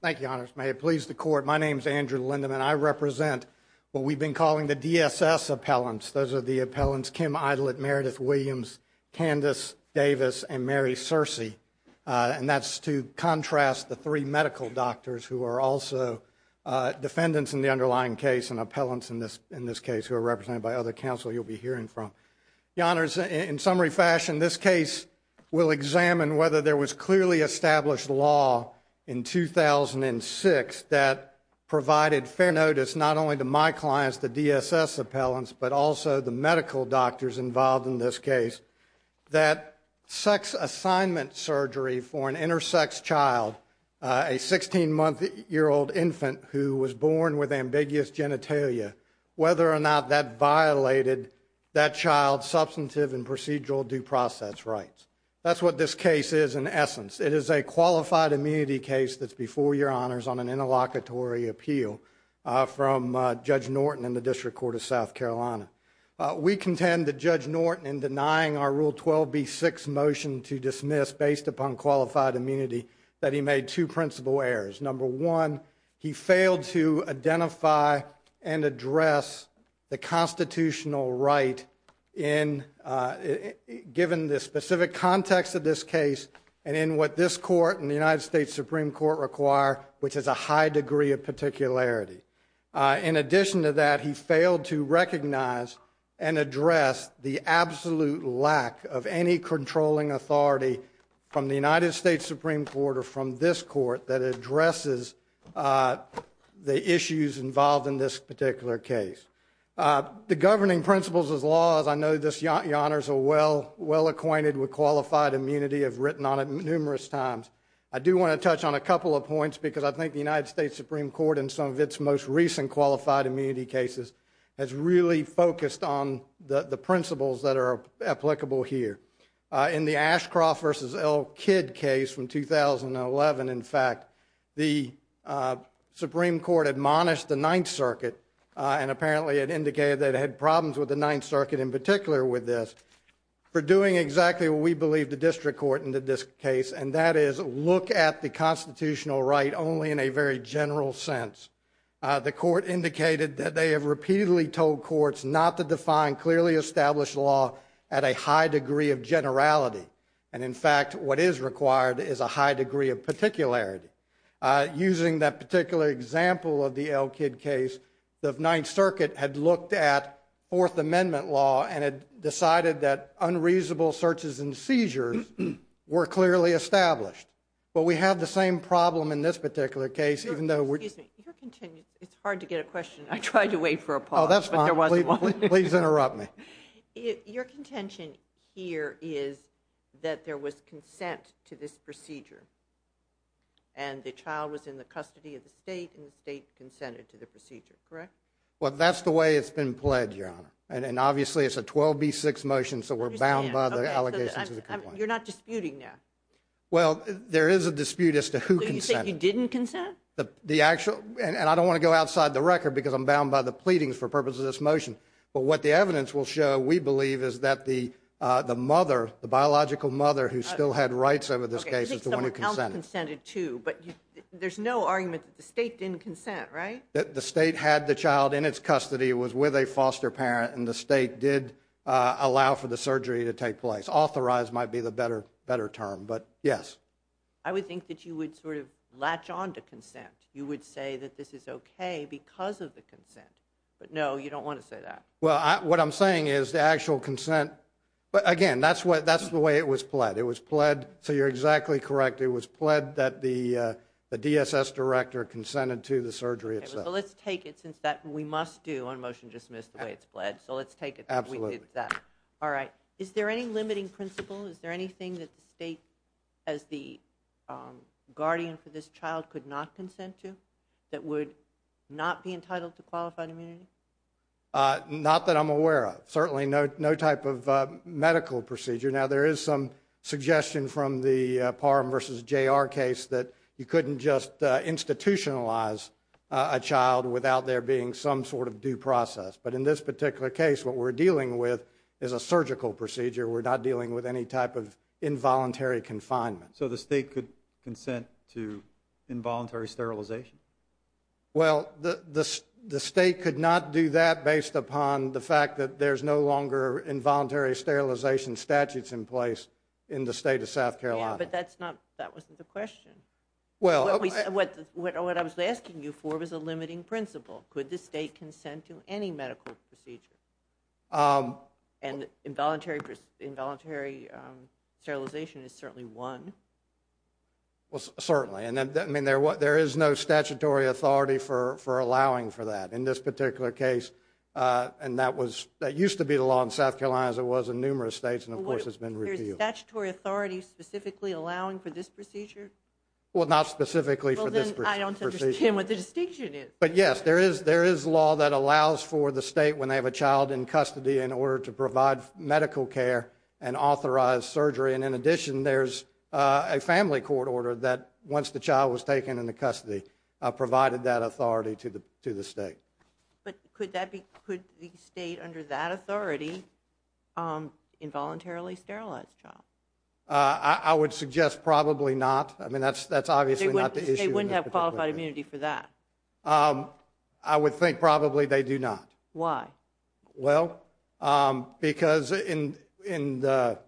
Thank you, Your Honors. May it please the Court, my name is Andrew Lindeman. I represent what we've been calling the DSS appellants. Those are the appellants Kim Idlett, Meredith Williams, Candace Davis, and Mary Searcy. And that's to contrast the three medical doctors who are also defendants in the underlying case and appellants in this case who are represented by other counsel you'll be hearing from. Your Honors, in summary fashion, this case will examine whether there was clearly established law in 2006 that provided fair notice not only to my clients, the DSS appellants, but also the medical doctors involved in this case that sex assignment surgery for an intersex child, a 16-month-old infant who was born with ambiguous genitalia, whether or not that violated that child's substantive and procedural due process rights. That's what this case is in essence. It is a qualified immunity case that's before Your Honors on an interlocutory appeal from Judge Norton in the District Court of South Carolina. We contend that Judge Norton, in denying our Rule 12b-6 motion to dismiss based upon qualified immunity, that he made two principal errors. Number one, he failed to identify and address the constitutional right given the specific context of this case and in what this Court and the United States Supreme Court require, which is a high degree of particularity. In addition to that, he failed to recognize and address the absolute lack of any controlling authority from the United States Supreme Court or from this Court that addresses the issues involved in this particular case. The governing principles of the law, as I know Your Honors are well acquainted with qualified immunity, have written on it numerous times. I do want to touch on a couple of points because I think the United States Supreme Court in some of its most recent qualified immunity cases has really focused on the principles that are applicable here. In the Ashcroft v. Elkid case from 2011, in fact, the Supreme Court admonished the Ninth Circuit, apparently it indicated that it had problems with the Ninth Circuit in particular with this, for doing exactly what we believe the District Court in this case, and that is look at the constitutional right only in a very general sense. The Court indicated that they have repeatedly told courts not to define clearly established law at a high degree of generality. And in fact, what is required is a high degree of particularity. Using that particular example of the Elkid case, the Ninth Circuit had looked at Fourth Amendment law and had decided that unreasonable searches and seizures were clearly established. But we have the same problem in this particular case, even though we're- Excuse me, your contention, it's hard to get a question. I tried to wait for a pause, but there wasn't one. Please interrupt me. Your contention here is that there was consent to this procedure, and the child was in the custody of the state, and the state consented to the procedure, correct? Well, that's the way it's been pledged, Your Honor. And obviously it's a 12B6 motion, so we're bound by the allegations of the complaint. You're not disputing now? Well, there is a dispute as to who consented. So you say you didn't consent? The actual, and I don't want to go outside the record because I'm bound by the pleadings for purposes of this motion, but what the evidence will show, we believe, is that the mother, the biological mother who still had rights over this case is the one who consented. Okay, I think someone else consented too, but there's no argument that the state didn't consent, right? The state had the child in its custody, was with a foster parent, and the state did allow for the surgery to take place. Authorized might be the better term, but yes. I would think that you would sort of latch on to consent. You would say that this is okay because of the consent, but no, you don't want to say that. Well, what I'm saying is the actual consent, but again, that's the way it was pledged. It was pledged, so you're exactly correct, it was pledged that the DSS director consented to the surgery itself. Okay, so let's take it since that, we must do on motion dismiss the way it's pledged, so let's take it that we did that. Absolutely. All right. Is there any limiting principle? Is there anything that the state, as the guardian for this child, could not consent to that would not be entitled to qualified immunity? Not that I'm aware of. Certainly, no type of medical procedure. Now, there is some suggestion from the PARM versus JR case that you couldn't just institutionalize a child without there being some sort of due process. But in this particular case, what we're dealing with is a surgical procedure. We're not dealing with any type of involuntary confinement. So the state could consent to involuntary sterilization? Well, the state could not do that based upon the fact that there's no longer involuntary sterilization statutes in place in the state of South Carolina. Yeah, but that's not, that wasn't the question. What I was asking you for was a limiting principle. Could the state consent to any medical procedure? And involuntary sterilization is certainly one. Well, certainly. And I mean, there is no statutory authority for allowing for that in this particular case. And that was, that used to be the law in South Carolina, as it was in numerous states, and of course, it's been reviewed. There's a statutory authority specifically allowing for this procedure? Well, not specifically for this procedure. Well, then I don't understand what the distinction is. But yes, there is law that allows for the state, when they have a child in custody, in order to provide medical care and authorize surgery. And in addition, there's a family court order that, once the child was taken into custody, provided that authority to the state. But could the state, under that authority, involuntarily sterilize the child? I would suggest probably not. I mean, that's obviously not the issue. They wouldn't have qualified immunity for that? I would think probably they do not. Why? Well, because in the,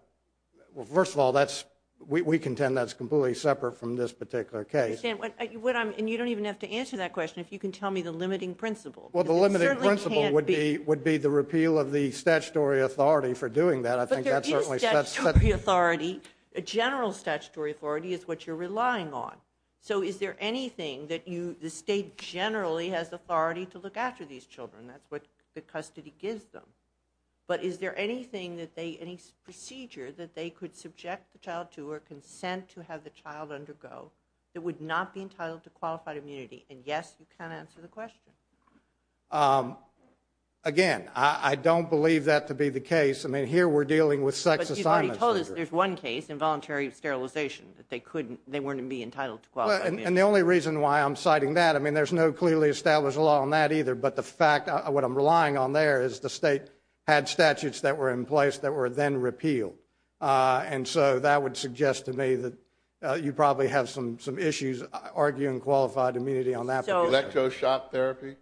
well, first of all, that's, we contend that's completely separate from this particular case. I understand. And you don't even have to answer that question if you can tell me the limiting principle. Well, the limiting principle would be the repeal of the statutory authority for doing that. But there is statutory authority. General statutory authority is what you're relying on. So is there anything that you, the state generally has authority to look after these children? That's what the custody gives them. But is there anything that they, any procedure that they could subject the child to or consent to have the child undergo that would not be entitled to qualified immunity? And yes, you can answer the question. Again, I don't believe that to be the case. I mean, here we're dealing with sex assignment surgery. But you've already told us there's one case, involuntary sterilization, that they couldn't, couldn't be entitled to qualified immunity. Well, and the only reason why I'm citing that, I mean, there's no clearly established law on that either. But the fact, what I'm relying on there is the state had statutes that were in place that were then repealed. And so that would suggest to me that you probably have some, some issues arguing qualified immunity on that. So, electroshock therapy?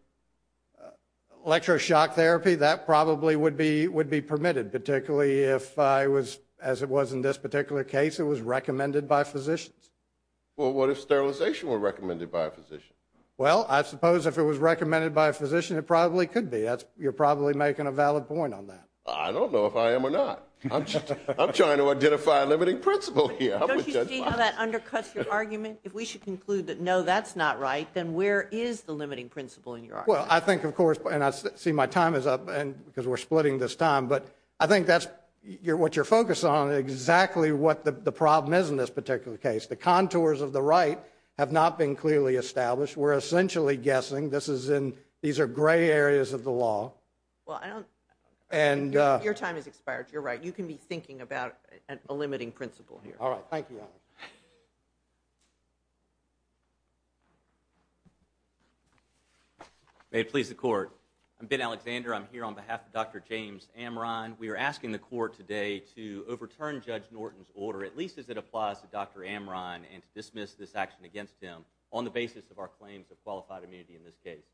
Electroshock therapy, that probably would be, would be permitted, particularly if I was, as it was in this particular case, it was recommended by physicians. Well, what if sterilization were recommended by a physician? Well, I suppose if it was recommended by a physician, it probably could be. You're probably making a valid point on that. I don't know if I am or not. I'm trying to identify a limiting principle here. Don't you see how that undercuts your argument? If we should conclude that, no, that's not right, then where is the limiting principle in your argument? Well, I think, of course, and I see my time is up and because we're splitting this time, but I think that's what you're focused on, exactly what the problem is in this particular case. The contours of the right have not been clearly established. We're essentially guessing this is in, these are gray areas of the law. Well, I don't, your time has expired, you're right, you can be thinking about a limiting principle here. All right. Thank you. May it please the Court. I'm Ben Alexander. I'm here on behalf of Dr. James Amron. We are asking the Court today to overturn Judge Norton's order, at least as it applies to Dr. Amron, and to dismiss this action against him on the basis of our claims of qualified immunity in this case.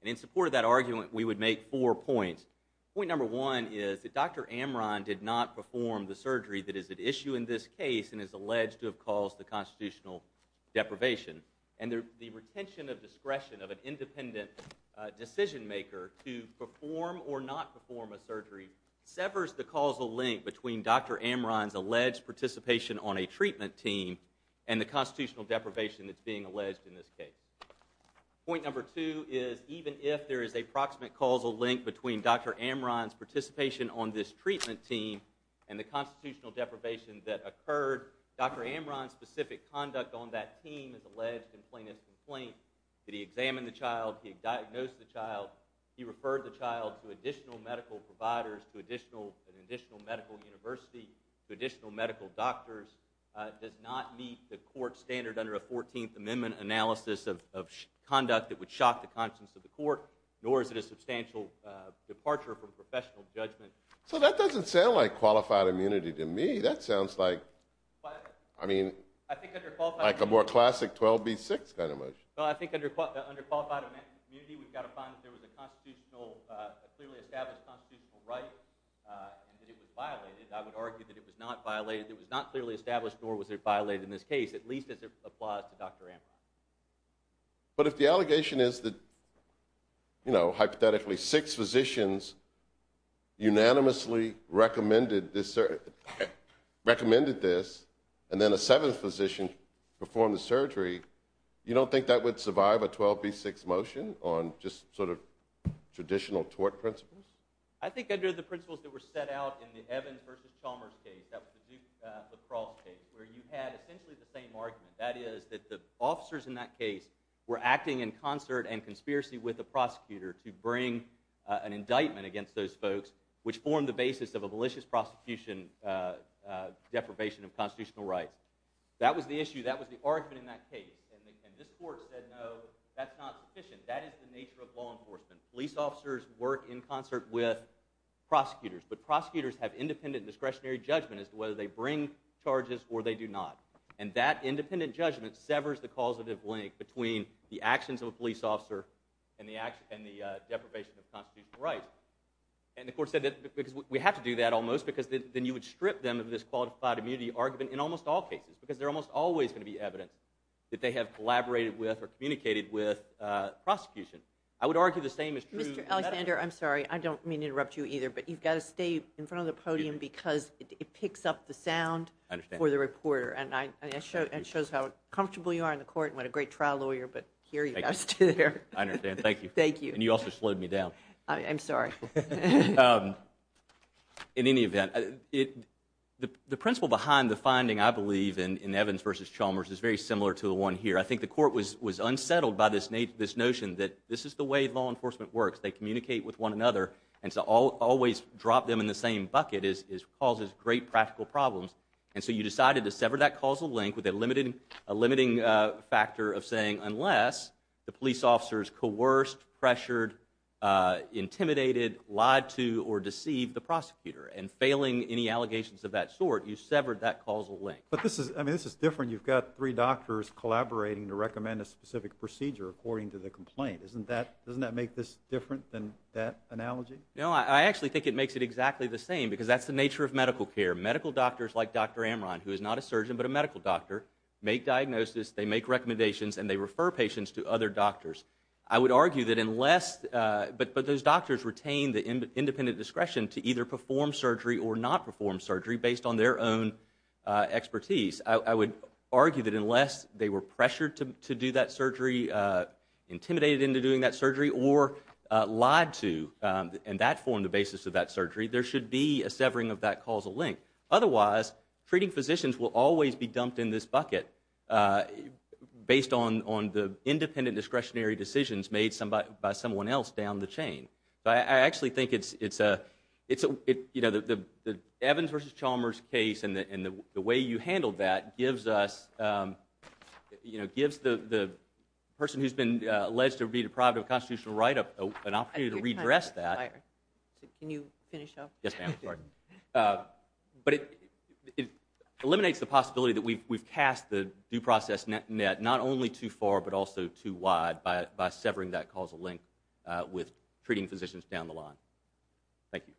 And in support of that argument, we would make four points. Point number one is that Dr. Amron did not perform the surgery that is at issue in this case and is alleged to have caused the constitutional deprivation. And the retention of discretion of an independent decision maker to perform or not perform a surgery severs the causal link between Dr. Amron's alleged participation on a treatment team and the constitutional deprivation that's being alleged in this case. Point number two is even if there is a proximate causal link between Dr. Amron's participation on this treatment team and the constitutional deprivation that occurred, Dr. Amron's specific conduct on that team is alleged in plainest complaint that he examined the child, he diagnosed the child, he referred the child to additional medical providers, to an additional medical university, to additional medical doctors, does not meet the Court standard under a Fourteenth Amendment analysis of conduct that would shock the conscience of the Court, nor is it a substantial departure from professional judgment. So that doesn't sound like qualified immunity to me. That sounds like, I mean, like a more classic 12B6 kind of motion. Well, I think under qualified immunity, we've got to find that there was a clearly established constitutional right, and that it was violated. I would argue that it was not clearly established, nor was it violated in this case, at least as it applies to Dr. Amron. But if the allegation is that, you know, hypothetically, six physicians unanimously recommended this, and then a seventh physician performed the surgery, you don't think that would survive a 12B6 motion on just sort of traditional tort principles? I think under the principles that were set out in the Evans v. Chalmers case, that was the Duke-LaCrosse case, where you had essentially the same argument. That is that the officers in that case were acting in concert and conspiracy with the prosecutor to bring an indictment against those folks, which formed the basis of a malicious prosecution deprivation of constitutional rights. That was the issue. That was the argument in that case. And this court said, no, that's not sufficient. That is the nature of law enforcement. Police officers work in concert with prosecutors. But prosecutors have independent discretionary judgment as to whether they bring charges or they do not. And that independent judgment severs the causative link between the actions of a police officer and the deprivation of constitutional rights. And the court said, because we have to do that almost, because then you would strip them of this qualified immunity argument in almost all cases, because there's almost always going to be evidence that they have collaborated with or communicated with prosecution. I would argue the same is true in medical. Mr. Alexander, I'm sorry. I don't mean to interrupt you either, but you've got to stay in front of the podium because it picks up the sound for the reporter. I understand. And it shows how comfortable you are in the court and what a great trial lawyer, but here you guys stood there. I understand. Thank you. Thank you. And you also slowed me down. I'm sorry. In any event, the principle behind the finding, I believe, in Evans v. Chalmers is very similar to the one here. I think the court was unsettled by this notion that this is the way law enforcement works. They communicate with one another. And to always drop them in the same bucket causes great practical problems. And so you decided to sever that causal link with a limiting factor of saying, unless the intimidated, lied to, or deceived the prosecutor, and failing any allegations of that sort, you severed that causal link. But this is different. You've got three doctors collaborating to recommend a specific procedure according to the complaint. Doesn't that make this different than that analogy? No, I actually think it makes it exactly the same because that's the nature of medical care. Medical doctors like Dr. Amron, who is not a surgeon but a medical doctor, make diagnosis, they make recommendations, and they refer patients to other doctors. I would argue that unless, but those doctors retain the independent discretion to either perform surgery or not perform surgery based on their own expertise. I would argue that unless they were pressured to do that surgery, intimidated into doing that surgery, or lied to and that formed the basis of that surgery, there should be a severing of that causal link. Otherwise, treating physicians will always be dumped in this bucket based on the independent discretionary decisions made by someone else down the chain. I actually think it's a, you know, the Evans versus Chalmers case and the way you handled that gives us, you know, gives the person who's been alleged to be deprived of a constitutional right an opportunity to redress that. Can you finish up? Yes, ma'am. Sorry. But it eliminates the possibility that we've cast the due process net not only too far but also too wide by severing that causal link with treating physicians down the line. Thank you.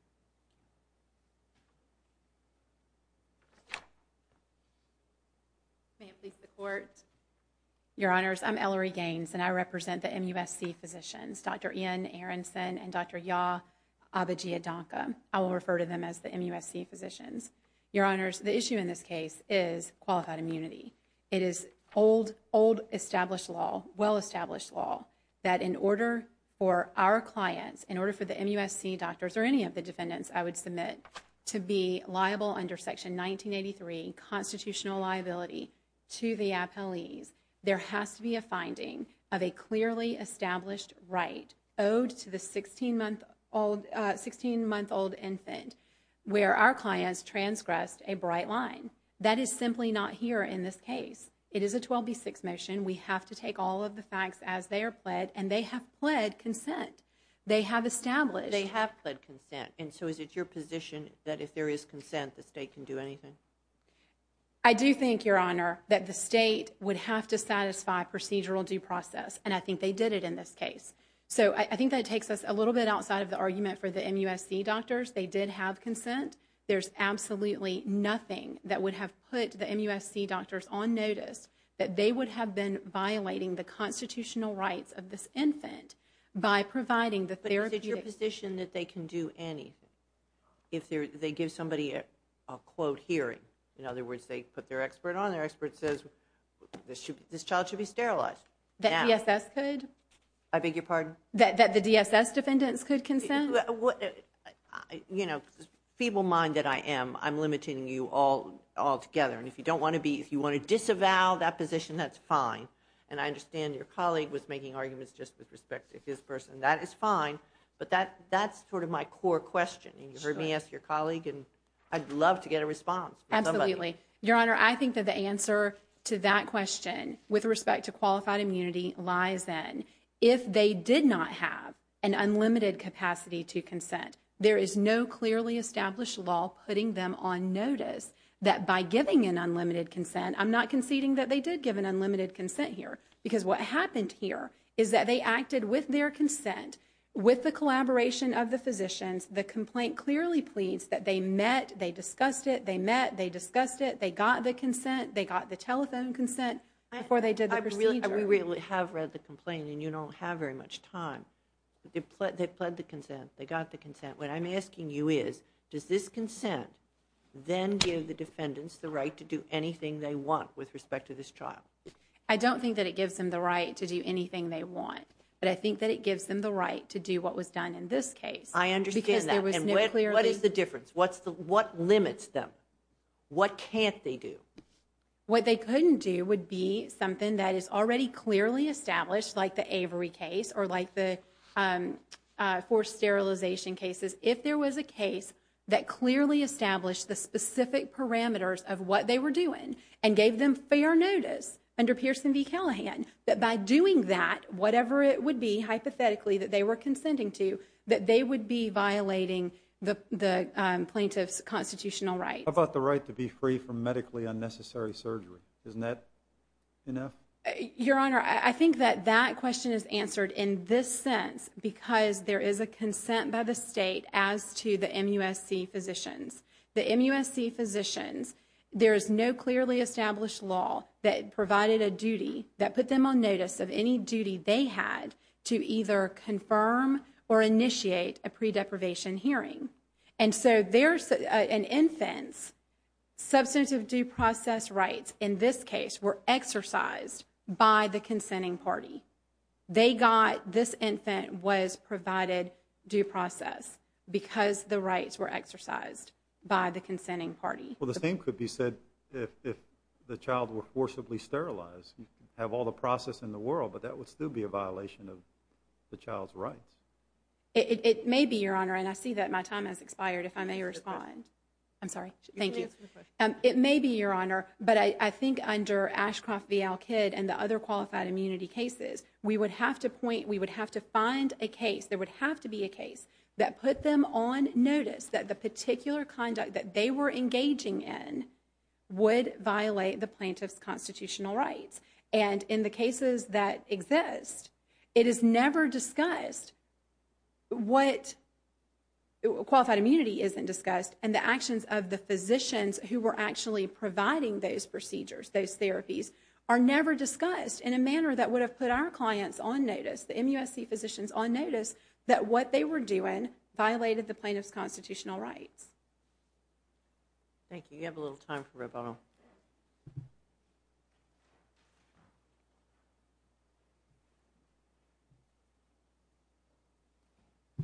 May it please the Court. Your Honors, I'm Ellery Gaines, and I represent the MUSC physicians, Dr. Ian Aaronson and Dr. Yaa Abidjiadonka. I will refer to them as the MUSC physicians. Your Honors, the issue in this case is qualified immunity. It is old, old established law, well-established law that in order for our clients, in order for the MUSC doctors or any of the defendants I would submit to be liable under Section 1983 constitutional liability to the appellees, there has to be a finding of a clearly established right owed to the 16-month-old infant where our clients transgressed a bright line. That is simply not here in this case. It is a 12B6 motion. We have to take all of the facts as they are pled, and they have pled consent. They have established. They have pled consent, and so is it your position that if there is consent the state can do anything? I do think, Your Honor, that the state would have to satisfy procedural due process, and I think they did it in this case. So I think that takes us a little bit outside of the argument for the MUSC doctors. They did have consent. There is absolutely nothing that would have put the MUSC doctors on notice that they would have been violating the constitutional rights of this infant by providing the therapeutic But is it your position that they can do anything if they give somebody a quote hearing? In other words, they put their expert on. Their expert says this child should be sterilized. That DSS could? I beg your pardon? That the DSS defendants could consent? You know, feeble-minded I am. I'm limiting you altogether, and if you don't want to be, if you want to disavow that position, that's fine, and I understand your colleague was making arguments just with respect to his person. That is fine, but that's sort of my core question, and you heard me ask your colleague, and I'd love to get a response. Absolutely. Your Honor, I think that the answer to that question with respect to qualified immunity lies then. If they did not have an unlimited capacity to consent, there is no clearly established law putting them on notice that by giving an unlimited consent, I'm not conceding that they did give an unlimited consent here, because what happened here is that they acted with their consent, with the collaboration of the physicians, the complaint clearly pleads that they met, they discussed it, they met, they discussed it, they got the consent, they got the telephone consent before they did the procedure. We have read the complaint, and you don't have very much time, but they pled the consent, they got the consent. What I'm asking you is, does this consent then give the defendants the right to do anything they want with respect to this trial? I don't think that it gives them the right to do anything they want, but I think that it gives them the right to do what was done in this case. I understand that, and what is the difference? What limits them? What can't they do? What they couldn't do would be something that is already clearly established, like the Avery case, or like the forced sterilization cases. If there was a case that clearly established the specific parameters of what they were doing, and gave them fair notice under Pearson v. Callahan, that by doing that, whatever it would be, hypothetically, that they were consenting to, that they would be violating the plaintiff's constitutional rights. How about the right to be free from medically unnecessary surgery? Isn't that enough? Your Honor, I think that that question is answered in this sense, because there is a consent by the state as to the MUSC physicians. The MUSC physicians, there is no clearly established law that provided a duty that put them on notice of any duty they had to either confirm or initiate a pre-deprivation hearing. An infant's substantive due process rights, in this case, were exercised by the consenting party. This infant was provided due process because the rights were exercised by the consenting party. Well, the same could be said if the child were forcibly sterilized. You could have all the process in the world, but that would still be a violation of the child's rights. It may be, Your Honor, and I see that my time has expired, if I may respond. I'm sorry. Thank you. It may be, Your Honor, but I think under Ashcroft v. Al-Kid and the other qualified immunity cases, we would have to point, we would have to find a case, there would have to be a case that put them on notice that the particular conduct that they were engaging in would violate the plaintiff's constitutional rights. And in the cases that exist, it is never discussed what, qualified immunity isn't discussed, and the actions of the physicians who were actually providing those procedures, those therapies, are never discussed in a manner that would have put our clients on notice, the MUSC physicians on notice, that what they were doing violated the plaintiff's constitutional rights. Thank you. You have a little time for rebuttal. Thank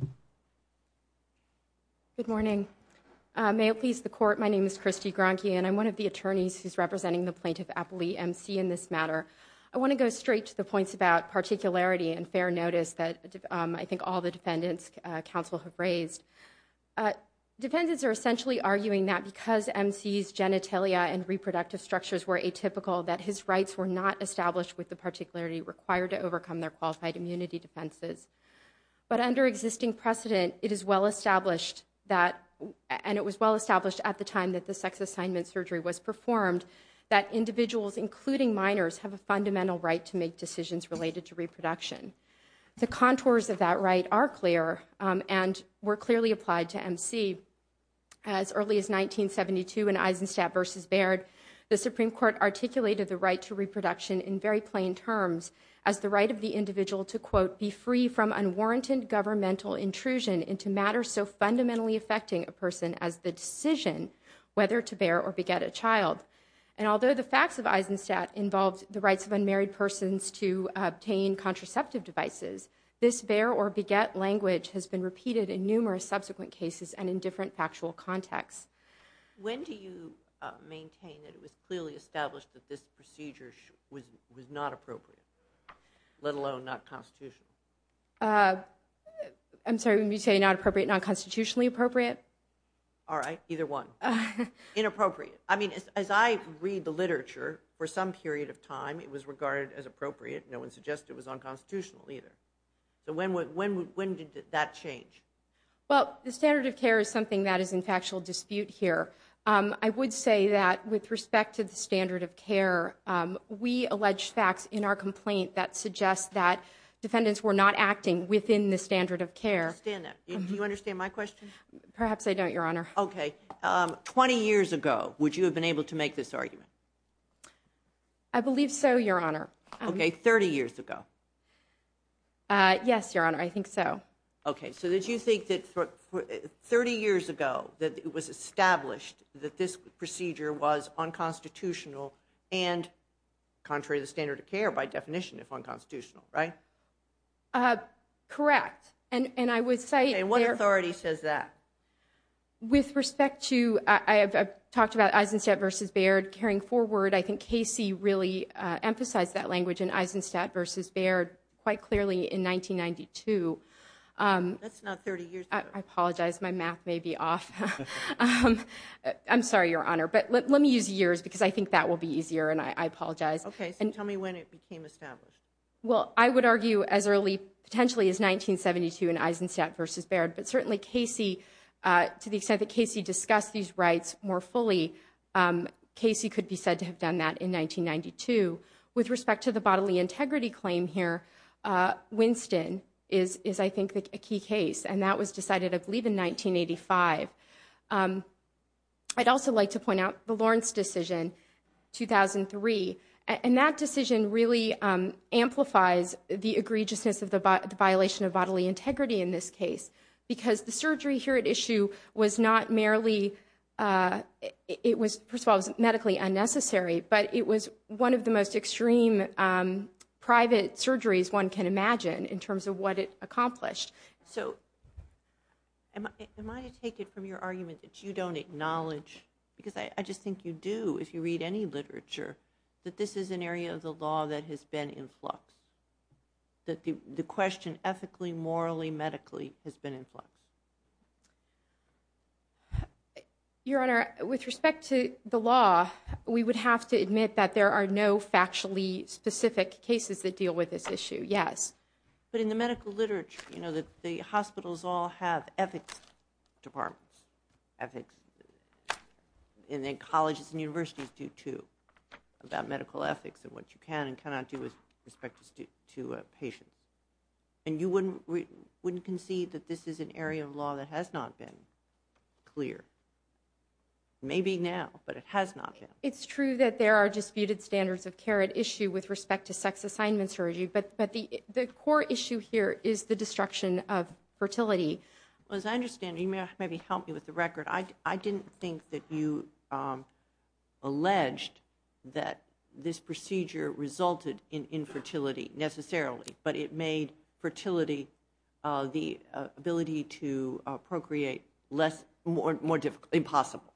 you. Good morning. May it please the Court, my name is Christy Gronke, and I'm one of the attorneys who's representing the plaintiff, Apolli MC, in this matter. I want to go straight to the points about particularity and fair notice that I think all the defendants' counsel have raised. Defendants are essentially arguing that because MC's genitalia and reproductive structures were atypical, that his rights were not established with the particularity required to overcome their qualified immunity defenses. But under existing precedent, it is well established that, and it was well established at the time that the sex assignment surgery was performed, that individuals, including minors, have a fundamental right to make decisions related to reproduction. The contours of that right are clear and were clearly applied to MC. As early as 1972 in Eisenstadt v. Baird, the Supreme Court articulated the right to reproduction in very plain terms as the right of the individual to, quote, be free from unwarranted governmental intrusion into matters so fundamentally affecting a person as the decision whether to bear or beget a child. And although the facts of Eisenstadt involved the rights of unmarried persons to obtain contraceptive devices, this bear or beget language has been repeated in numerous subsequent cases and in different factual contexts. When do you maintain that it was clearly established that this procedure was not appropriate, let alone not constitutional? I'm sorry, when you say not appropriate, not constitutionally appropriate? All right, either one. Inappropriate. I mean, as I read the literature, for some period of time, it was regarded as appropriate. No one suggested it was unconstitutional either. So when did that change? Well, the standard of care is something that is in factual dispute here. I would say that with respect to the standard of care, we allege facts in our complaint that suggest that defendants were not acting within the standard of care. I understand that. Do you understand my question? Perhaps I don't, Your Honor. Okay. Twenty years ago, would you have been able to make this argument? I believe so, Your Honor. Okay, 30 years ago. Yes, Your Honor, I think so. Okay, so did you think that 30 years ago, that it was established that this procedure was unconstitutional and contrary to the standard of care by definition, if unconstitutional, right? Correct. And I would say- And what authority says that? With respect to, I've talked about Eisenstadt v. Baird carrying forward. I think Casey really emphasized that language in Eisenstadt v. Baird quite clearly in 1992. That's not 30 years ago. I apologize. My math may be off. I'm sorry, Your Honor, but let me use years because I think that will be easier, and I apologize. Okay, so tell me when it became established. Well, I would argue as early potentially as 1972 in Eisenstadt v. Baird, but certainly Casey, to the extent that Casey discussed these rights more fully, Casey could be said to have done that in 1992. With respect to the bodily integrity claim here, Winston is, I think, a key case, and that was decided, I believe, in 1985. I'd also like to point out the Lawrence decision, 2003, and that decision really amplifies the egregiousness of the violation of bodily integrity in this case because the surgery here at issue was not merely, it was, first of all, medically unnecessary, but it was one of the most extreme private surgeries one can imagine in terms of what it accomplished. So am I to take it from your argument that you don't acknowledge, because I just think you do if you read any literature, that this is an area of the law that has been in flux, that the question ethically, morally, medically has been in flux? Your Honor, with respect to the law, we would have to admit that there are no factually specific cases that deal with this issue, yes. But in the medical literature, you know, the hospitals all have ethics departments, ethics, and then colleges and universities do, too, about medical ethics and what you can and can't do to patients. And you wouldn't concede that this is an area of law that has not been clear. Maybe now, but it has not been. It's true that there are disputed standards of care at issue with respect to sex assignment surgery, but the core issue here is the destruction of fertility. Well, as I understand it, you may have maybe helped me with the record, I didn't think that you alleged that this procedure resulted in infertility necessarily, but it made fertility, the ability to procreate less, more difficult, impossible.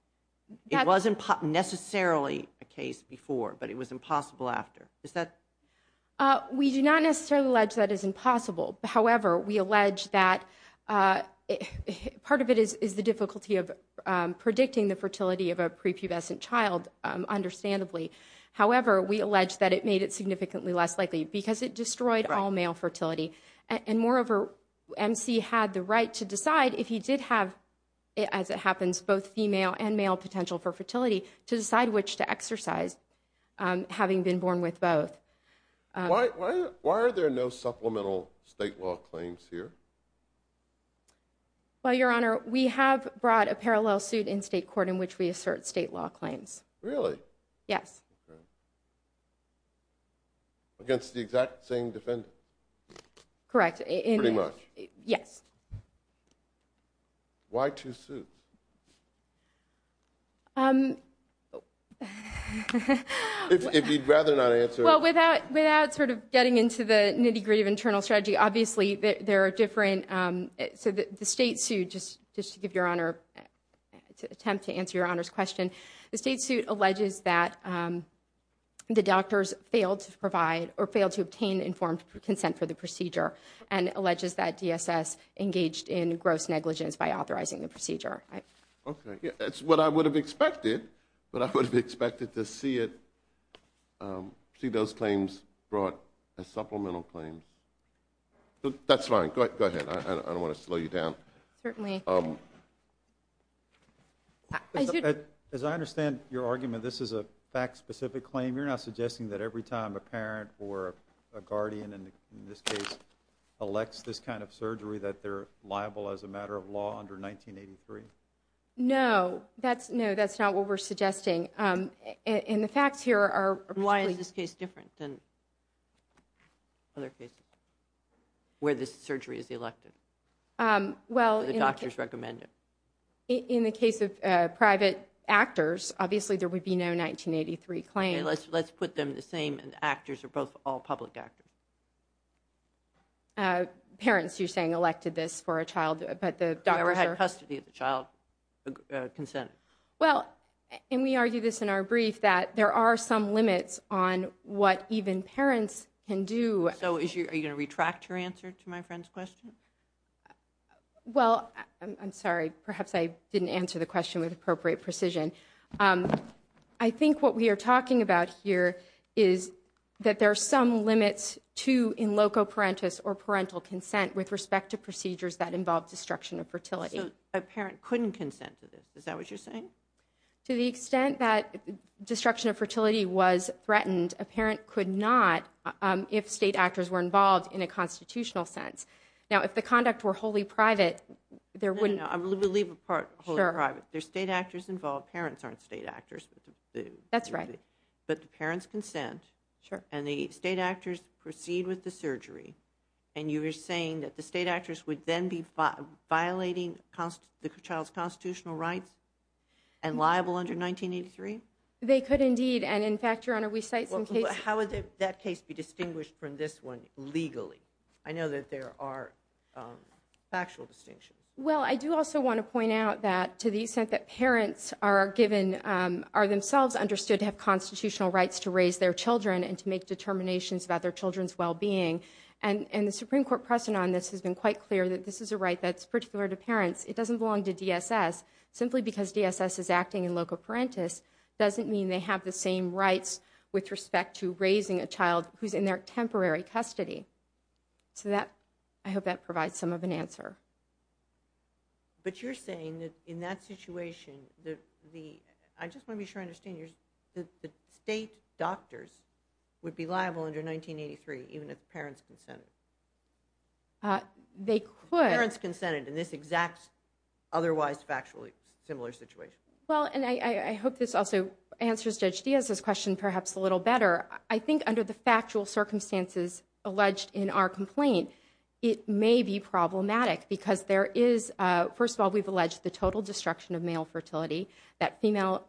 It wasn't necessarily a case before, but it was impossible after. Is that? We do not necessarily allege that as impossible. However, we allege that part of it is the difficulty of predicting the fertility of a prepubescent child, understandably. However, we allege that it made it significantly less likely because it destroyed all male fertility. And moreover, MC had the right to decide if he did have, as it happens, both female and male potential for fertility, to decide which to exercise, having been born with both. Why are there no supplemental state law claims here? Well, Your Honor, we have brought a parallel suit in state court in which we assert state law claims. Really? Yes. Against the exact same defendant? Correct. Pretty much. Yes. Why two suits? Um... If you'd rather not answer... Well, without sort of getting into the nitty-gritty of internal strategy, obviously there are different... So the state suit, just to give Your Honor, to attempt to answer Your Honor's question, the state suit alleges that the doctors failed to provide or failed to obtain informed consent for the procedure, and alleges that DSS engaged in gross negligence by authorizing the procedure. Okay. That's what I would have expected, but I would have expected to see it, see those claims brought as supplemental claims. That's fine. Go ahead. I don't want to slow you down. Certainly. As I understand your argument, this is a fact-specific claim. You're not suggesting that every time a parent or a guardian, in this case, elects this kind of surgery that they're liable as a matter of law under 1983? No. No, that's not what we're suggesting. And the facts here are... Why is this case different than other cases where this surgery is elected? Well... Or the doctors recommend it? In the case of private actors, obviously there would be no 1983 claim. Okay, let's put them the same, and the actors are both all public actors. Parents, you're saying, elected this for a child, but the doctors are... Whoever had custody of the child consented. Well, and we argue this in our brief, that there are some limits on what even parents can do. So are you going to retract your answer to my friend's question? Well, I'm sorry. Perhaps I didn't answer the question with appropriate precision. I think what we are talking about here is that there are some limits to in loco parentis, or parental consent, with respect to procedures that involve destruction of fertility. So a parent couldn't consent to this. Is that what you're saying? To the extent that destruction of fertility was threatened, a parent could not if state actors were involved in a constitutional sense. Now, if the conduct were wholly private, there wouldn't... No, no, no. We'll leave the part wholly private. Sure. If there's state actors involved, parents aren't state actors. That's right. But the parents consent. Sure. And the state actors proceed with the surgery. And you are saying that the state actors would then be violating the child's constitutional rights and liable under 1983? They could indeed. And in fact, Your Honor, we cite some cases... How would that case be distinguished from this one legally? I know that there are factual distinctions. Well, I do also want to point out that to the extent that parents are themselves understood to have constitutional rights to raise their children and to make determinations about their children's well-being, and the Supreme Court precedent on this has been quite clear that this is a right that's particular to parents. It doesn't belong to DSS. Simply because DSS is acting in loco parentis doesn't mean they have the same rights with respect to raising a child who's in their temporary custody. So I hope that provides some of an answer. But you're saying that in that situation, the... I just want to be sure I understand. The state doctors would be liable under 1983 even if parents consented? They could. If parents consented in this exact, otherwise factually similar situation? Well, and I hope this also answers Judge Diaz's question perhaps a little better. I think under the factual circumstances alleged in our complaint, it may be problematic because there is, first of all, we've alleged the total destruction of male fertility. That female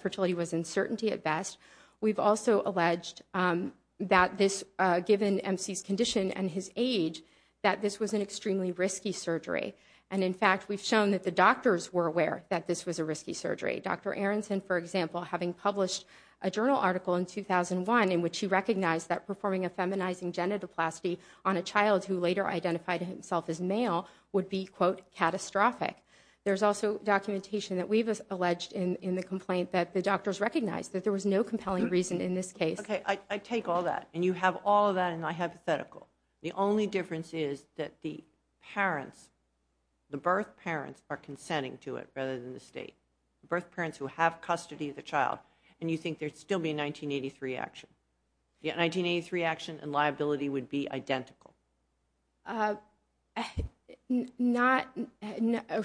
fertility was in certainty at best. We've also alleged that this, given MC's condition and his age, that this was an extremely risky surgery. And in fact, we've shown that the doctors were aware that this was a risky surgery. Dr. Aronson, for example, having published a journal article in 2001 in which he recognized that performing a feminizing genitoplasty on a child who later identified himself as male would be, quote, catastrophic. There's also documentation that we've alleged in the complaint that the doctors recognized that there was no compelling reason in this case. Okay, I take all that. And you have all of that in my hypothetical. The only difference is that the parents, the birth parents, are consenting to it rather than the state. The birth parents who have custody of the child, and you think there'd still be a 1983 action. The 1983 action and liability would be identical. Not, I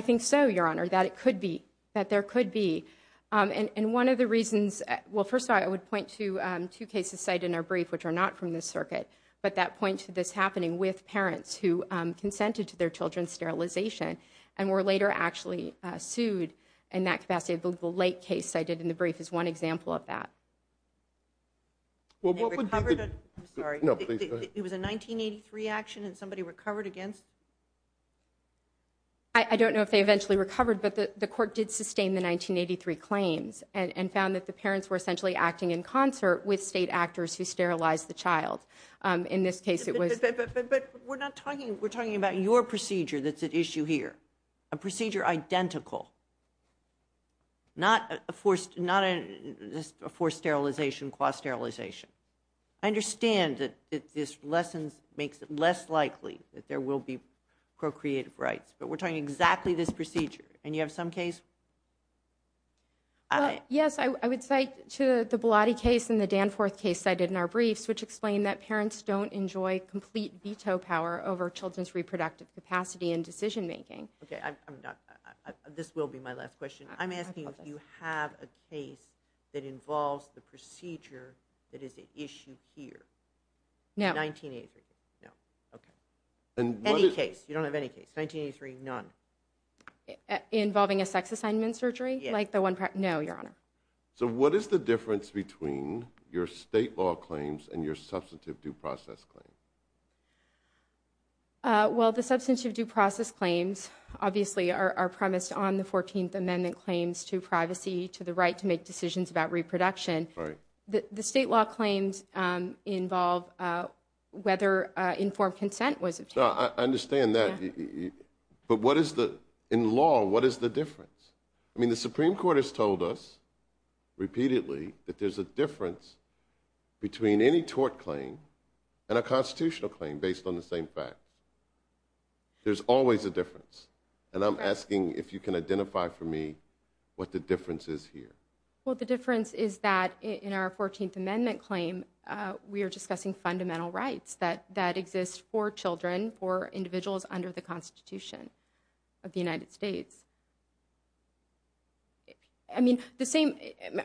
think so, Your Honor, that it could be, that there could be. And one of the reasons, well, first of all, I would point to two cases cited in our brief, which are not from this circuit, but that point to this happening with parents who consented to their children's sterilization and were later actually sued in that capacity. The late case cited in the brief is one example of that. They recovered? I'm sorry. No, please. It was a 1983 action and somebody recovered against? I don't know if they eventually recovered, but the court did sustain the 1983 claims and found that the parents were essentially acting in concert with state actors who sterilized the child. In this case, it was. But we're not talking, we're talking about your procedure that's at issue here, a procedure identical. Not a forced, not a forced sterilization, quasi-sterilization. I understand that this lesson makes it less likely that there will be procreative rights, but we're talking exactly this procedure. And you have some case? Well, yes, I would cite to the Bellotti case and the Danforth case cited in our briefs, which explain that parents don't enjoy complete veto power over children's reproductive capacity and decision making. Okay, I'm done. This will be my last question. I'm asking if you have a case that involves the procedure that is at issue here. No. 1983. No. Okay. Any case. You don't have any case. 1983, none. Involving a sex assignment surgery? Yes. No, Your Honor. So what is the difference between your state law claims and your substantive due process claims? Well, the substantive due process claims obviously are premised on the 14th Amendment claims to privacy, to the right to make decisions about reproduction. Right. The state law claims involve whether informed consent was obtained. I understand that. But what is the, in law, what is the difference? I mean, the Supreme Court has told us repeatedly that there's a difference between any tort claim and a constitutional claim based on the same fact. There's always a difference. And I'm asking if you can identify for me what the difference is here. Well, the difference is that in our 14th Amendment claim, we are discussing fundamental rights that exist for children, for individuals under the Constitution of the United States. I mean, the same,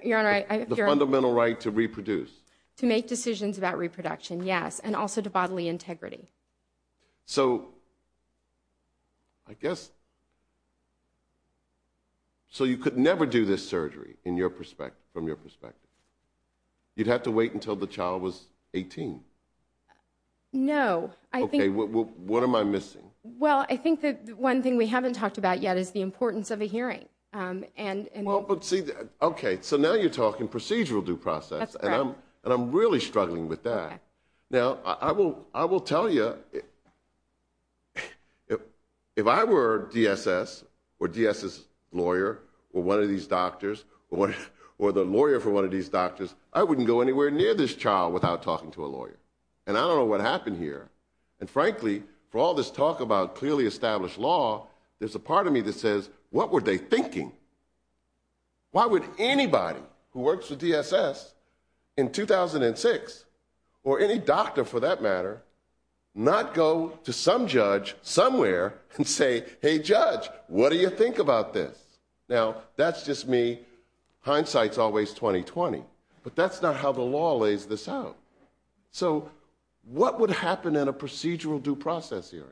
Your Honor, I... To reproduce. To make decisions about reproduction, yes. And also to bodily integrity. So, I guess... So you could never do this surgery from your perspective? You'd have to wait until the child was 18? No. Okay, what am I missing? Well, I think that one thing we haven't talked about yet is the importance of a hearing. Well, but see, okay, so now you're talking procedural due process. That's correct. And I'm really struggling with that. Now, I will tell you... If I were DSS, or DSS lawyer, or one of these doctors, or the lawyer for one of these doctors, I wouldn't go anywhere near this child without talking to a lawyer. And I don't know what happened here. And frankly, for all this talk about clearly established law, there's a part of me that says, what were they thinking? Why would anybody who works for DSS in 2006, or any doctor for that matter, not go to some judge somewhere and say, hey judge, what do you think about this? Now, that's just me. Hindsight's always 20-20. But that's not how the law lays this out. So, what would happen in a procedural due process hearing?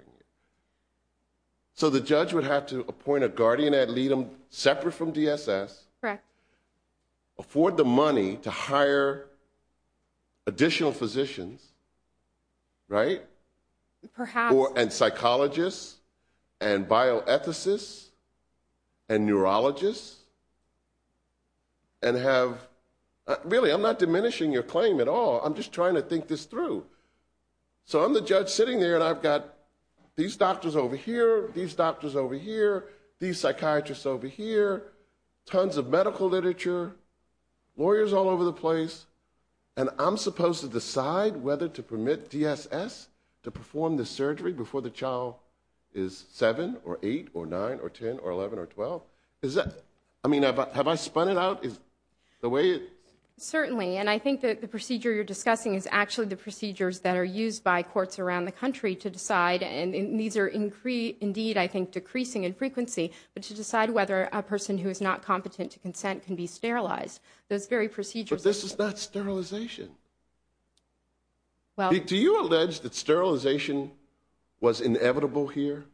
So the judge would have to appoint a guardian ad litem separate from DSS. Correct. Afford the money to hire additional physicians, right? Perhaps. And psychologists, and bioethicists, and neurologists, and have... Really, I'm not diminishing your claim at all. I'm just trying to think this through. So I'm the judge sitting there, and I've got these doctors over here, these doctors over here, these psychiatrists over here, tons of medical literature, lawyers all over the place, and I'm supposed to decide whether to permit DSS to perform the surgery before the child is 7, or 8, or 9, or 10, or 11, or 12? I mean, have I spun it out? Certainly. And I think that the procedure you're discussing is actually the procedures that are used by courts around the country to decide, and these are indeed, I think, decreasing in frequency, but to decide whether a person who is not competent to consent can be sterilized. Those very procedures... But this is not sterilization. Do you allege that sterilization was inevitable here?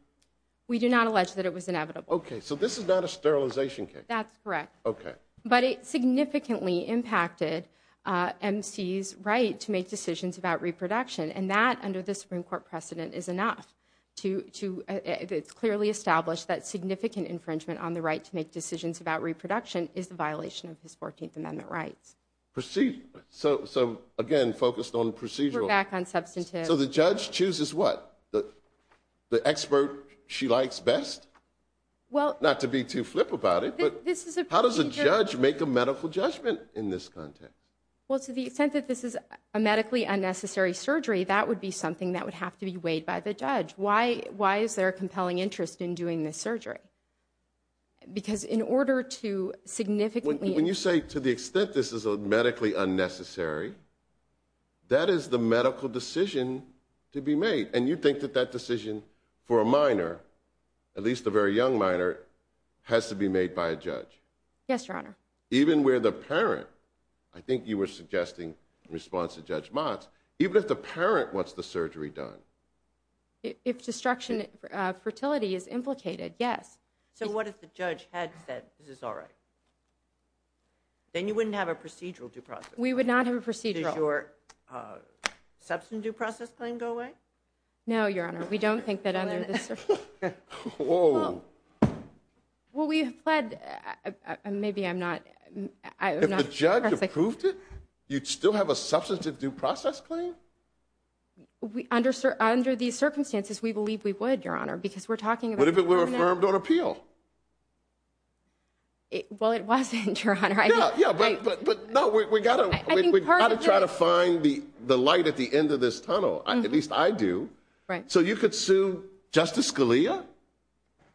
We do not allege that it was inevitable. Okay, so this is not a sterilization case. That's correct. Okay. But it significantly impacted MC's right to make decisions about reproduction, and that under the Supreme Court precedent is enough to clearly establish that significant infringement on the right to make decisions about reproduction is a violation of his 14th Amendment rights. So, again, focused on procedural. We're back on substantive. So the judge chooses what? The expert she likes best? Not to be too flip about it, but how does a judge make a medical judgment in this context? Well, to the extent that this is a medically unnecessary surgery, that would be something that would have to be weighed by the judge. Why is there a compelling interest in doing this surgery? Because in order to significantly... When you say to the extent this is medically unnecessary, that is the medical decision to be made, and you think that that decision for a minor, at least a very young minor, has to be made by a judge. Yes, Your Honor. Even where the parent, I think you were suggesting in response to Judge Motz, even if the parent wants the surgery done. If destruction of fertility is implicated, yes. So what if the judge had said this is all right? Then you wouldn't have a procedural due process. We would not have a procedural. Does your substantive due process claim go away? No, Your Honor. We don't think that under the... Whoa. Well, we have pled... Maybe I'm not... If the judge approved it, you'd still have a substantive due process claim? Under these circumstances, we believe we would, Your Honor, because we're talking about... What if it were affirmed on appeal? Well, it wasn't, Your Honor. Yeah, but no, we've got to try to find the light at the end of this tunnel. At least I do. Right. So you could sue Justice Scalia?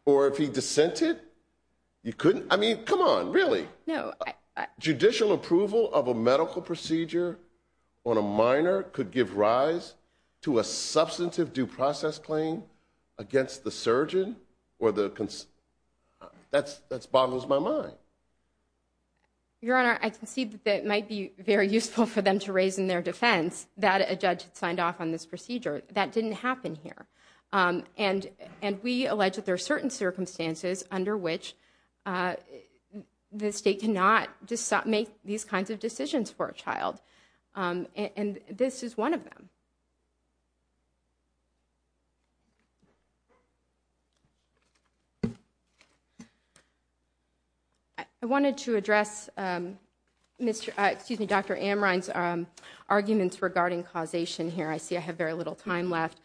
Or if he dissented? You couldn't? I mean, come on, really? No, I... Judicial approval of a medical procedure on a minor could give rise to a substantive due process claim against the surgeon or the... That boggles my mind. Your Honor, I concede that it might be very useful for them to raise in their defense that a judge had signed off on this procedure. That didn't happen here. And we allege that there are certain circumstances under which the state cannot make these kinds of decisions for a child. And this is one of them. I wanted to address Dr. Amrine's arguments regarding causation here. I see I have very little time left.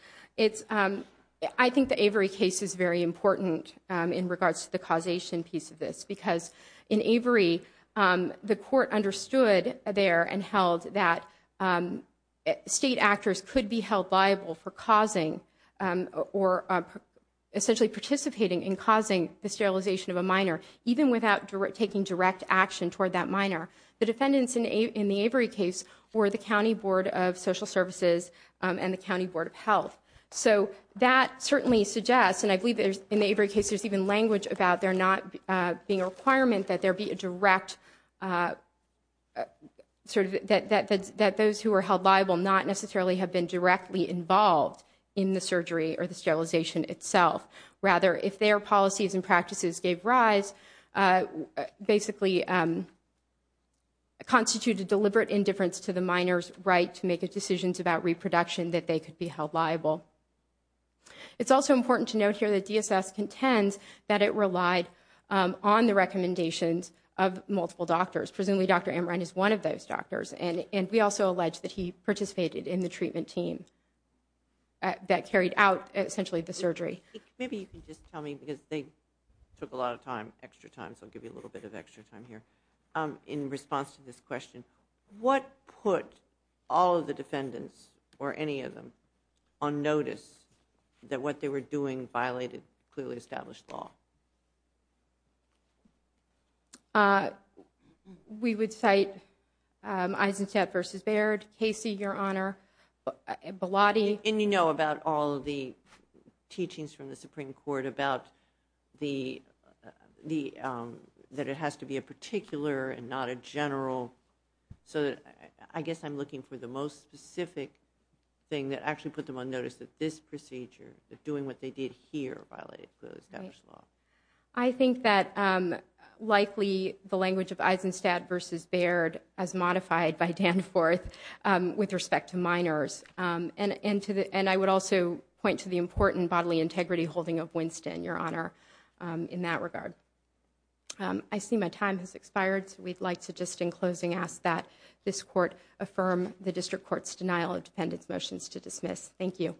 I think the Avery case is very important in regards to the causation piece of this. Because in Avery, the court understood there and held that state actors could be held liable for causing or essentially participating in causing the sterilization of a minor, even without taking direct action toward that minor. The defendants in the Avery case were the County Board of Social Services and the County Board of Health. So that certainly suggests, and I believe in the Avery case there's even language about there not being a requirement that there be a direct... That those who are held liable not necessarily have been directly involved in the surgery or the sterilization itself. Rather, if their policies and practices gave rise, basically constituted deliberate indifference to the minor's right to make decisions about reproduction that they could be held liable. It's also important to note here that DSS contends that it relied on the recommendations of multiple doctors. Presumably Dr. Amrine is one of those doctors. And we also allege that he participated in the treatment team that carried out essentially the surgery. Maybe you can just tell me, because they took a lot of time, extra time, so I'll give you a little bit of extra time here. In response to this question, what put all of the defendants, or any of them, on notice that what they were doing violated clearly established law? We would cite Eisenstadt v. Baird, Casey, Your Honor, Belotti. And you know about all of the teachings from the Supreme Court about that it has to be a particular and not a general. So I guess I'm looking for the most specific thing that actually put them on notice that this procedure, that doing what they did here violated the established law. I think that likely the language of Eisenstadt v. Baird as modified by Danforth with respect to minors. And I would also point to the important bodily integrity holding of Winston, Your Honor, in that regard. I see my time has expired, so we'd like to just in closing ask that this court affirm the district court's denial of defendants' motions to dismiss. Thank you.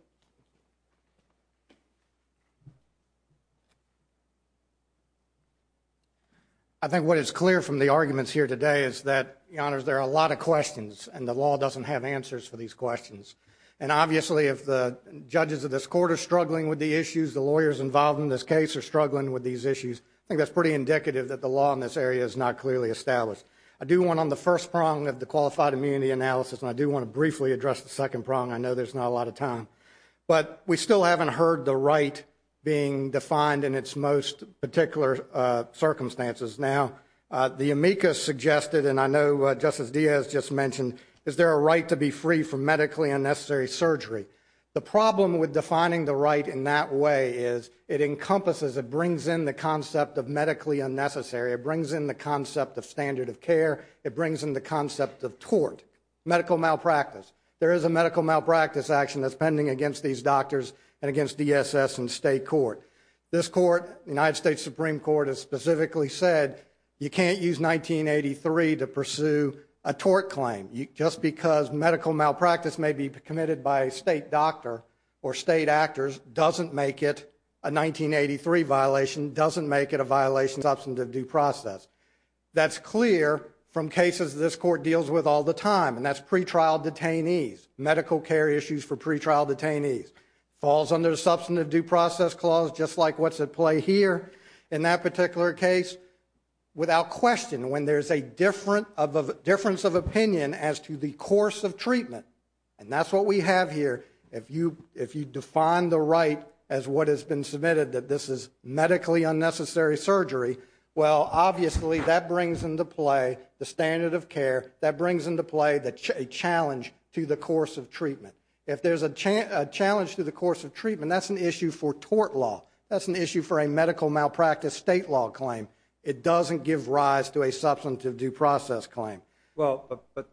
I think what is clear from the arguments here today is that, Your Honors, there are a lot of questions, and the law doesn't have answers for these questions. And obviously if the judges of this court are struggling with the issues, the lawyers involved in this case are struggling with these issues, I think that's pretty indicative that the law in this area is not clearly established. I do want on the first prong of the qualified immunity analysis, and I do want to briefly address the second prong. I know there's not a lot of time. But we still haven't heard the right being defined in its most particular circumstances. Now, the amicus suggested, and I know Justice Diaz just mentioned, is there a right to be free from medically unnecessary surgery? The problem with defining the right in that way is it encompasses, it brings in the concept of medically unnecessary, it brings in the concept of standard of care, it brings in the concept of tort, medical malpractice. There is a medical malpractice action that's pending against these doctors and against DSS and state court. This court, the United States Supreme Court, has specifically said you can't use 1983 to pursue a tort claim. Just because medical malpractice may be committed by a state doctor or state actors doesn't make it a 1983 violation, doesn't make it a violation of substantive due process. That's clear from cases this court deals with all the time, and that's pretrial detainees, medical care issues for pretrial detainees. Falls under the substantive due process clause, just like what's at play here in that particular case. Without question, when there's a difference of opinion as to the course of treatment, and that's what we have here, if you define the right as what has been submitted that this is medically unnecessary surgery, well, obviously that brings into play the standard of care, that brings into play a challenge to the course of treatment. If there's a challenge to the course of treatment, that's an issue for tort law. That's an issue for a medical malpractice state law claim. It doesn't give rise to a substantive due process claim. Well, but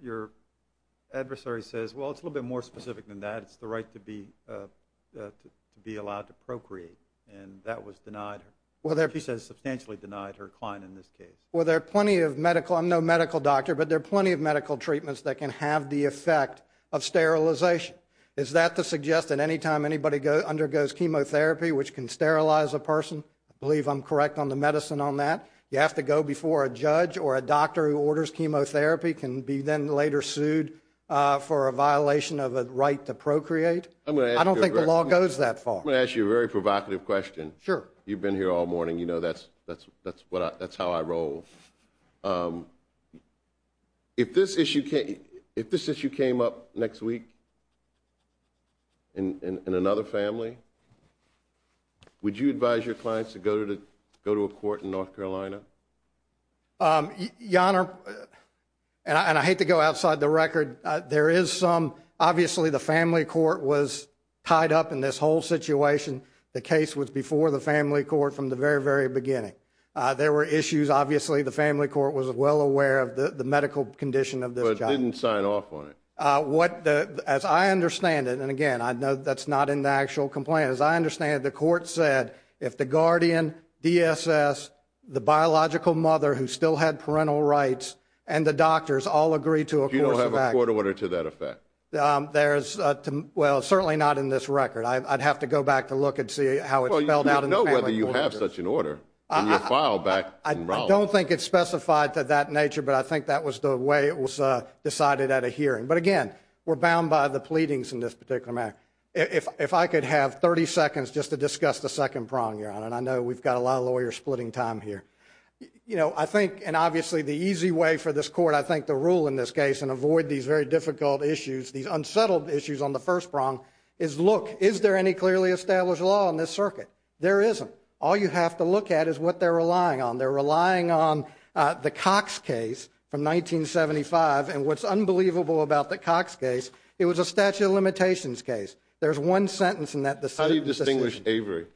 your adversary says, well, it's a little bit more specific than that. It's the right to be allowed to procreate, and that was denied. She says substantially denied her client in this case. Well, there are plenty of medical, I'm no medical doctor, but there are plenty of medical treatments that can have the effect of sterilization. Is that to suggest that any time anybody undergoes chemotherapy, which can sterilize a person, I believe I'm correct on the medicine on that, you have to go before a judge or a doctor who orders chemotherapy can be then later sued for a violation of a right to procreate? I don't think the law goes that far. I'm going to ask you a very provocative question. Sure. You've been here all morning. You know that's how I roll. If this issue came up next week in another family, would you advise your clients to go to a court in North Carolina? Your Honor, and I hate to go outside the record, there is some. Obviously, the family court was tied up in this whole situation. The case was before the family court from the very, very beginning. There were issues. Obviously, the family court was well aware of the medical condition of this child. But didn't sign off on it. As I understand it, and again, I know that's not in the actual complaint. As I understand it, the court said if the guardian, DSS, the biological mother who still had parental rights, and the doctors all agreed to a course of action. You don't have a court order to that effect? Well, certainly not in this record. I'd have to go back to look and see how it's spelled out in the family court. Well, you don't know whether you have such an order in your file back in Raleigh. I don't think it's specified to that nature, but I think that was the way it was decided at a hearing. But again, we're bound by the pleadings in this particular matter. If I could have 30 seconds just to discuss the second prong, Your Honor, and I know we've got a lot of lawyers splitting time here. You know, I think, and obviously the easy way for this court, I think, to rule in this case and avoid these very difficult issues, these unsettled issues on the first prong, is look, is there any clearly established law in this circuit? There isn't. All you have to look at is what they're relying on. They're relying on the Cox case from 1975, and what's unbelievable about the Cox case, it was a statute of limitations case. There's one sentence in that decision. How do you distinguish Avery?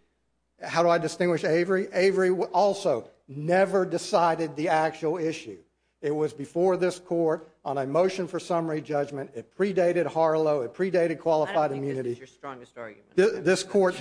How do I distinguish Avery? Avery also never decided the actual issue. It was before this court on a motion for summary judgment. It predated Harlow. It predated qualified immunity. I don't think this is your strongest argument. This court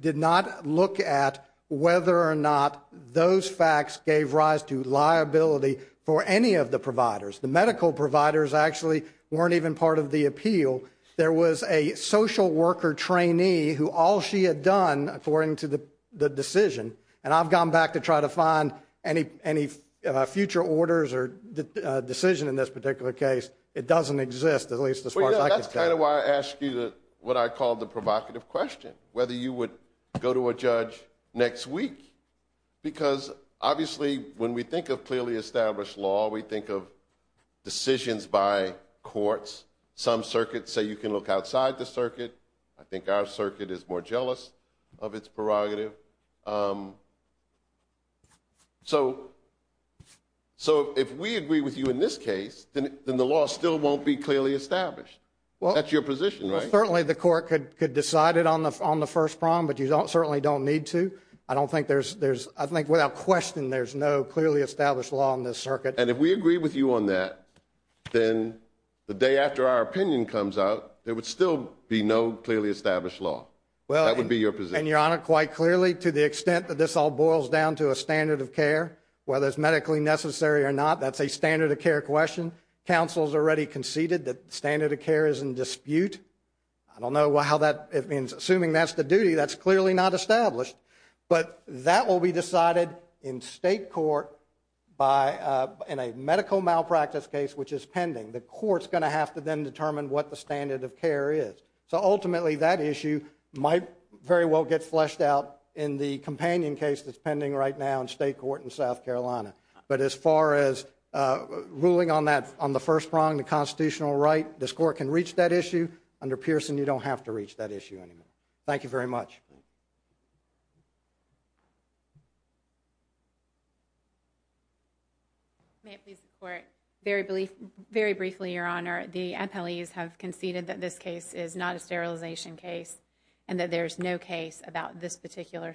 did not look at whether or not those facts gave rise to liability for any of the providers. The medical providers actually weren't even part of the appeal. There was a social worker trainee who all she had done, according to the decision, and I've gone back to try to find any future orders or decision in this particular case. It doesn't exist, at least as far as I can tell. That's kind of why I asked you what I call the provocative question, whether you would go to a judge next week. Because obviously when we think of clearly established law, we think of decisions by courts. Some circuits say you can look outside the circuit. I think our circuit is more jealous of its prerogative. So if we agree with you in this case, then the law still won't be clearly established. That's your position, right? Well, certainly the court could decide it on the first prong, but you certainly don't need to. I think without question there's no clearly established law in this circuit. And if we agree with you on that, then the day after our opinion comes out, there would still be no clearly established law. That would be your position. And, Your Honor, quite clearly, to the extent that this all boils down to a standard of care, whether it's medically necessary or not, that's a standard of care question. Counsel has already conceded that the standard of care is in dispute. I don't know how that means. Assuming that's the duty, that's clearly not established. But that will be decided in state court in a medical malpractice case, which is pending. The court's going to have to then determine what the standard of care is. So ultimately that issue might very well get fleshed out in the companion case that's pending right now in state court in South Carolina. But as far as ruling on the first prong, the constitutional right, this court can reach that issue. Under Pearson, you don't have to reach that issue anymore. Thank you very much. May it please the Court, very briefly, Your Honor, the MPLEs have conceded that this case is not a sterilization case and that there's no case about this particular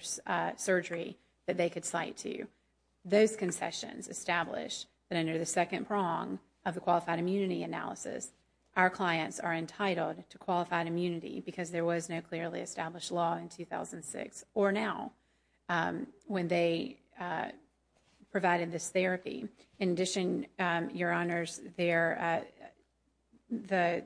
surgery that they could cite to. Those concessions establish that under the second prong of the qualified immunity analysis, our clients are entitled to qualified immunity because there was no clearly established law in 2006 or now when they provided this therapy. In addition, Your Honors, the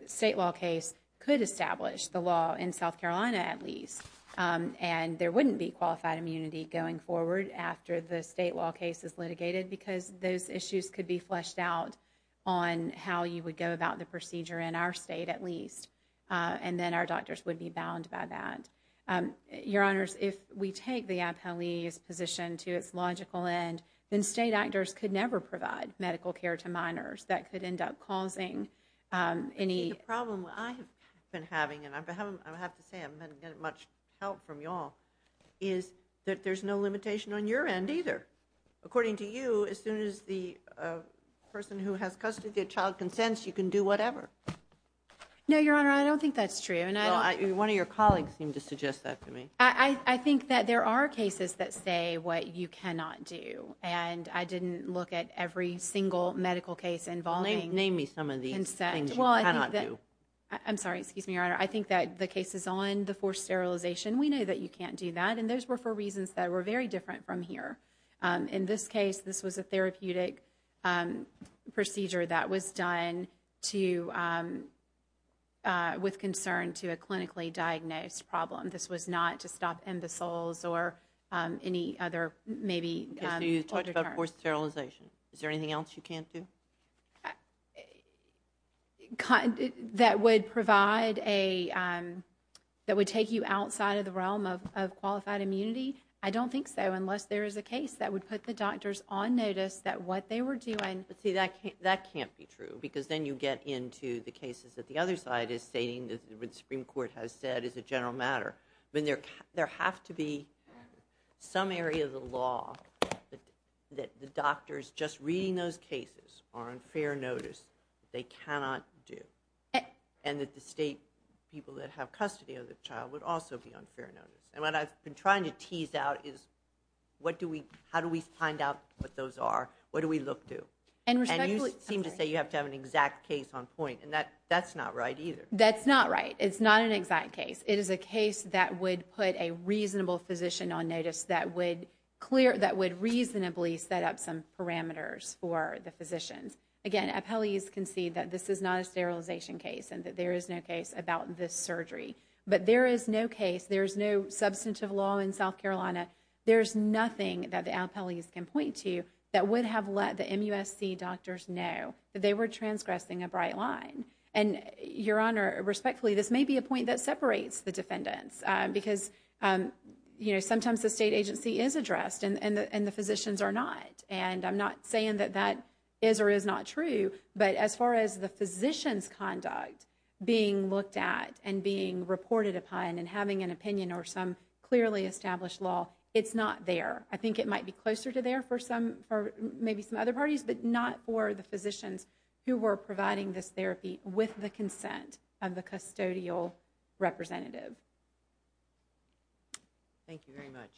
state law case could establish the law in South Carolina at least and there wouldn't be qualified immunity going forward after the state law case is litigated because those issues could be fleshed out on how you would go about the procedure in our state at least. And then our doctors would be bound by that. Your Honors, if we take the MPLEs position to its logical end, then state actors could never provide medical care to minors. That could end up causing any... I have to say, I haven't gotten much help from you all, is that there's no limitation on your end either. According to you, as soon as the person who has custody of the child consents, you can do whatever. No, Your Honor, I don't think that's true. One of your colleagues seemed to suggest that to me. I think that there are cases that say what you cannot do. And I didn't look at every single medical case involving consent. Name me some of these things you cannot do. I'm sorry, excuse me, Your Honor. I think that the cases on the forced sterilization, we know that you can't do that. And those were for reasons that were very different from here. In this case, this was a therapeutic procedure that was done with concern to a clinically diagnosed problem. This was not to stop imbeciles or any other maybe... You talked about forced sterilization. Is there anything else you can't do? That would provide a... That would take you outside of the realm of qualified immunity? I don't think so, unless there is a case that would put the doctors on notice that what they were doing... But see, that can't be true, because then you get into the cases that the other side is stating, what the Supreme Court has said is a general matter. There have to be some area of the law that the doctors just reading those cases are on fair notice. They cannot do. And that the state people that have custody of the child would also be on fair notice. And what I've been trying to tease out is, how do we find out what those are? What do we look to? And you seem to say you have to have an exact case on point. And that's not right either. That's not right. It's not an exact case. It is a case that would put a reasonable physician on notice that would reasonably set up some parameters for the physicians. Again, appellees can see that this is not a sterilization case and that there is no case about this surgery. But there is no case. There is no substantive law in South Carolina. There is nothing that the appellees can point to that would have let the MUSC doctors know that they were transgressing a bright line. And, Your Honor, respectfully, this may be a point that separates the defendants. Because, you know, sometimes the state agency is addressed and the physicians are not. And I'm not saying that that is or is not true. But as far as the physician's conduct being looked at and being reported upon and having an opinion or some clearly established law, it's not there. I think it might be closer to there for maybe some other parties, but not for the physicians who were providing this therapy with the consent of the custodial representative. Thank you very much.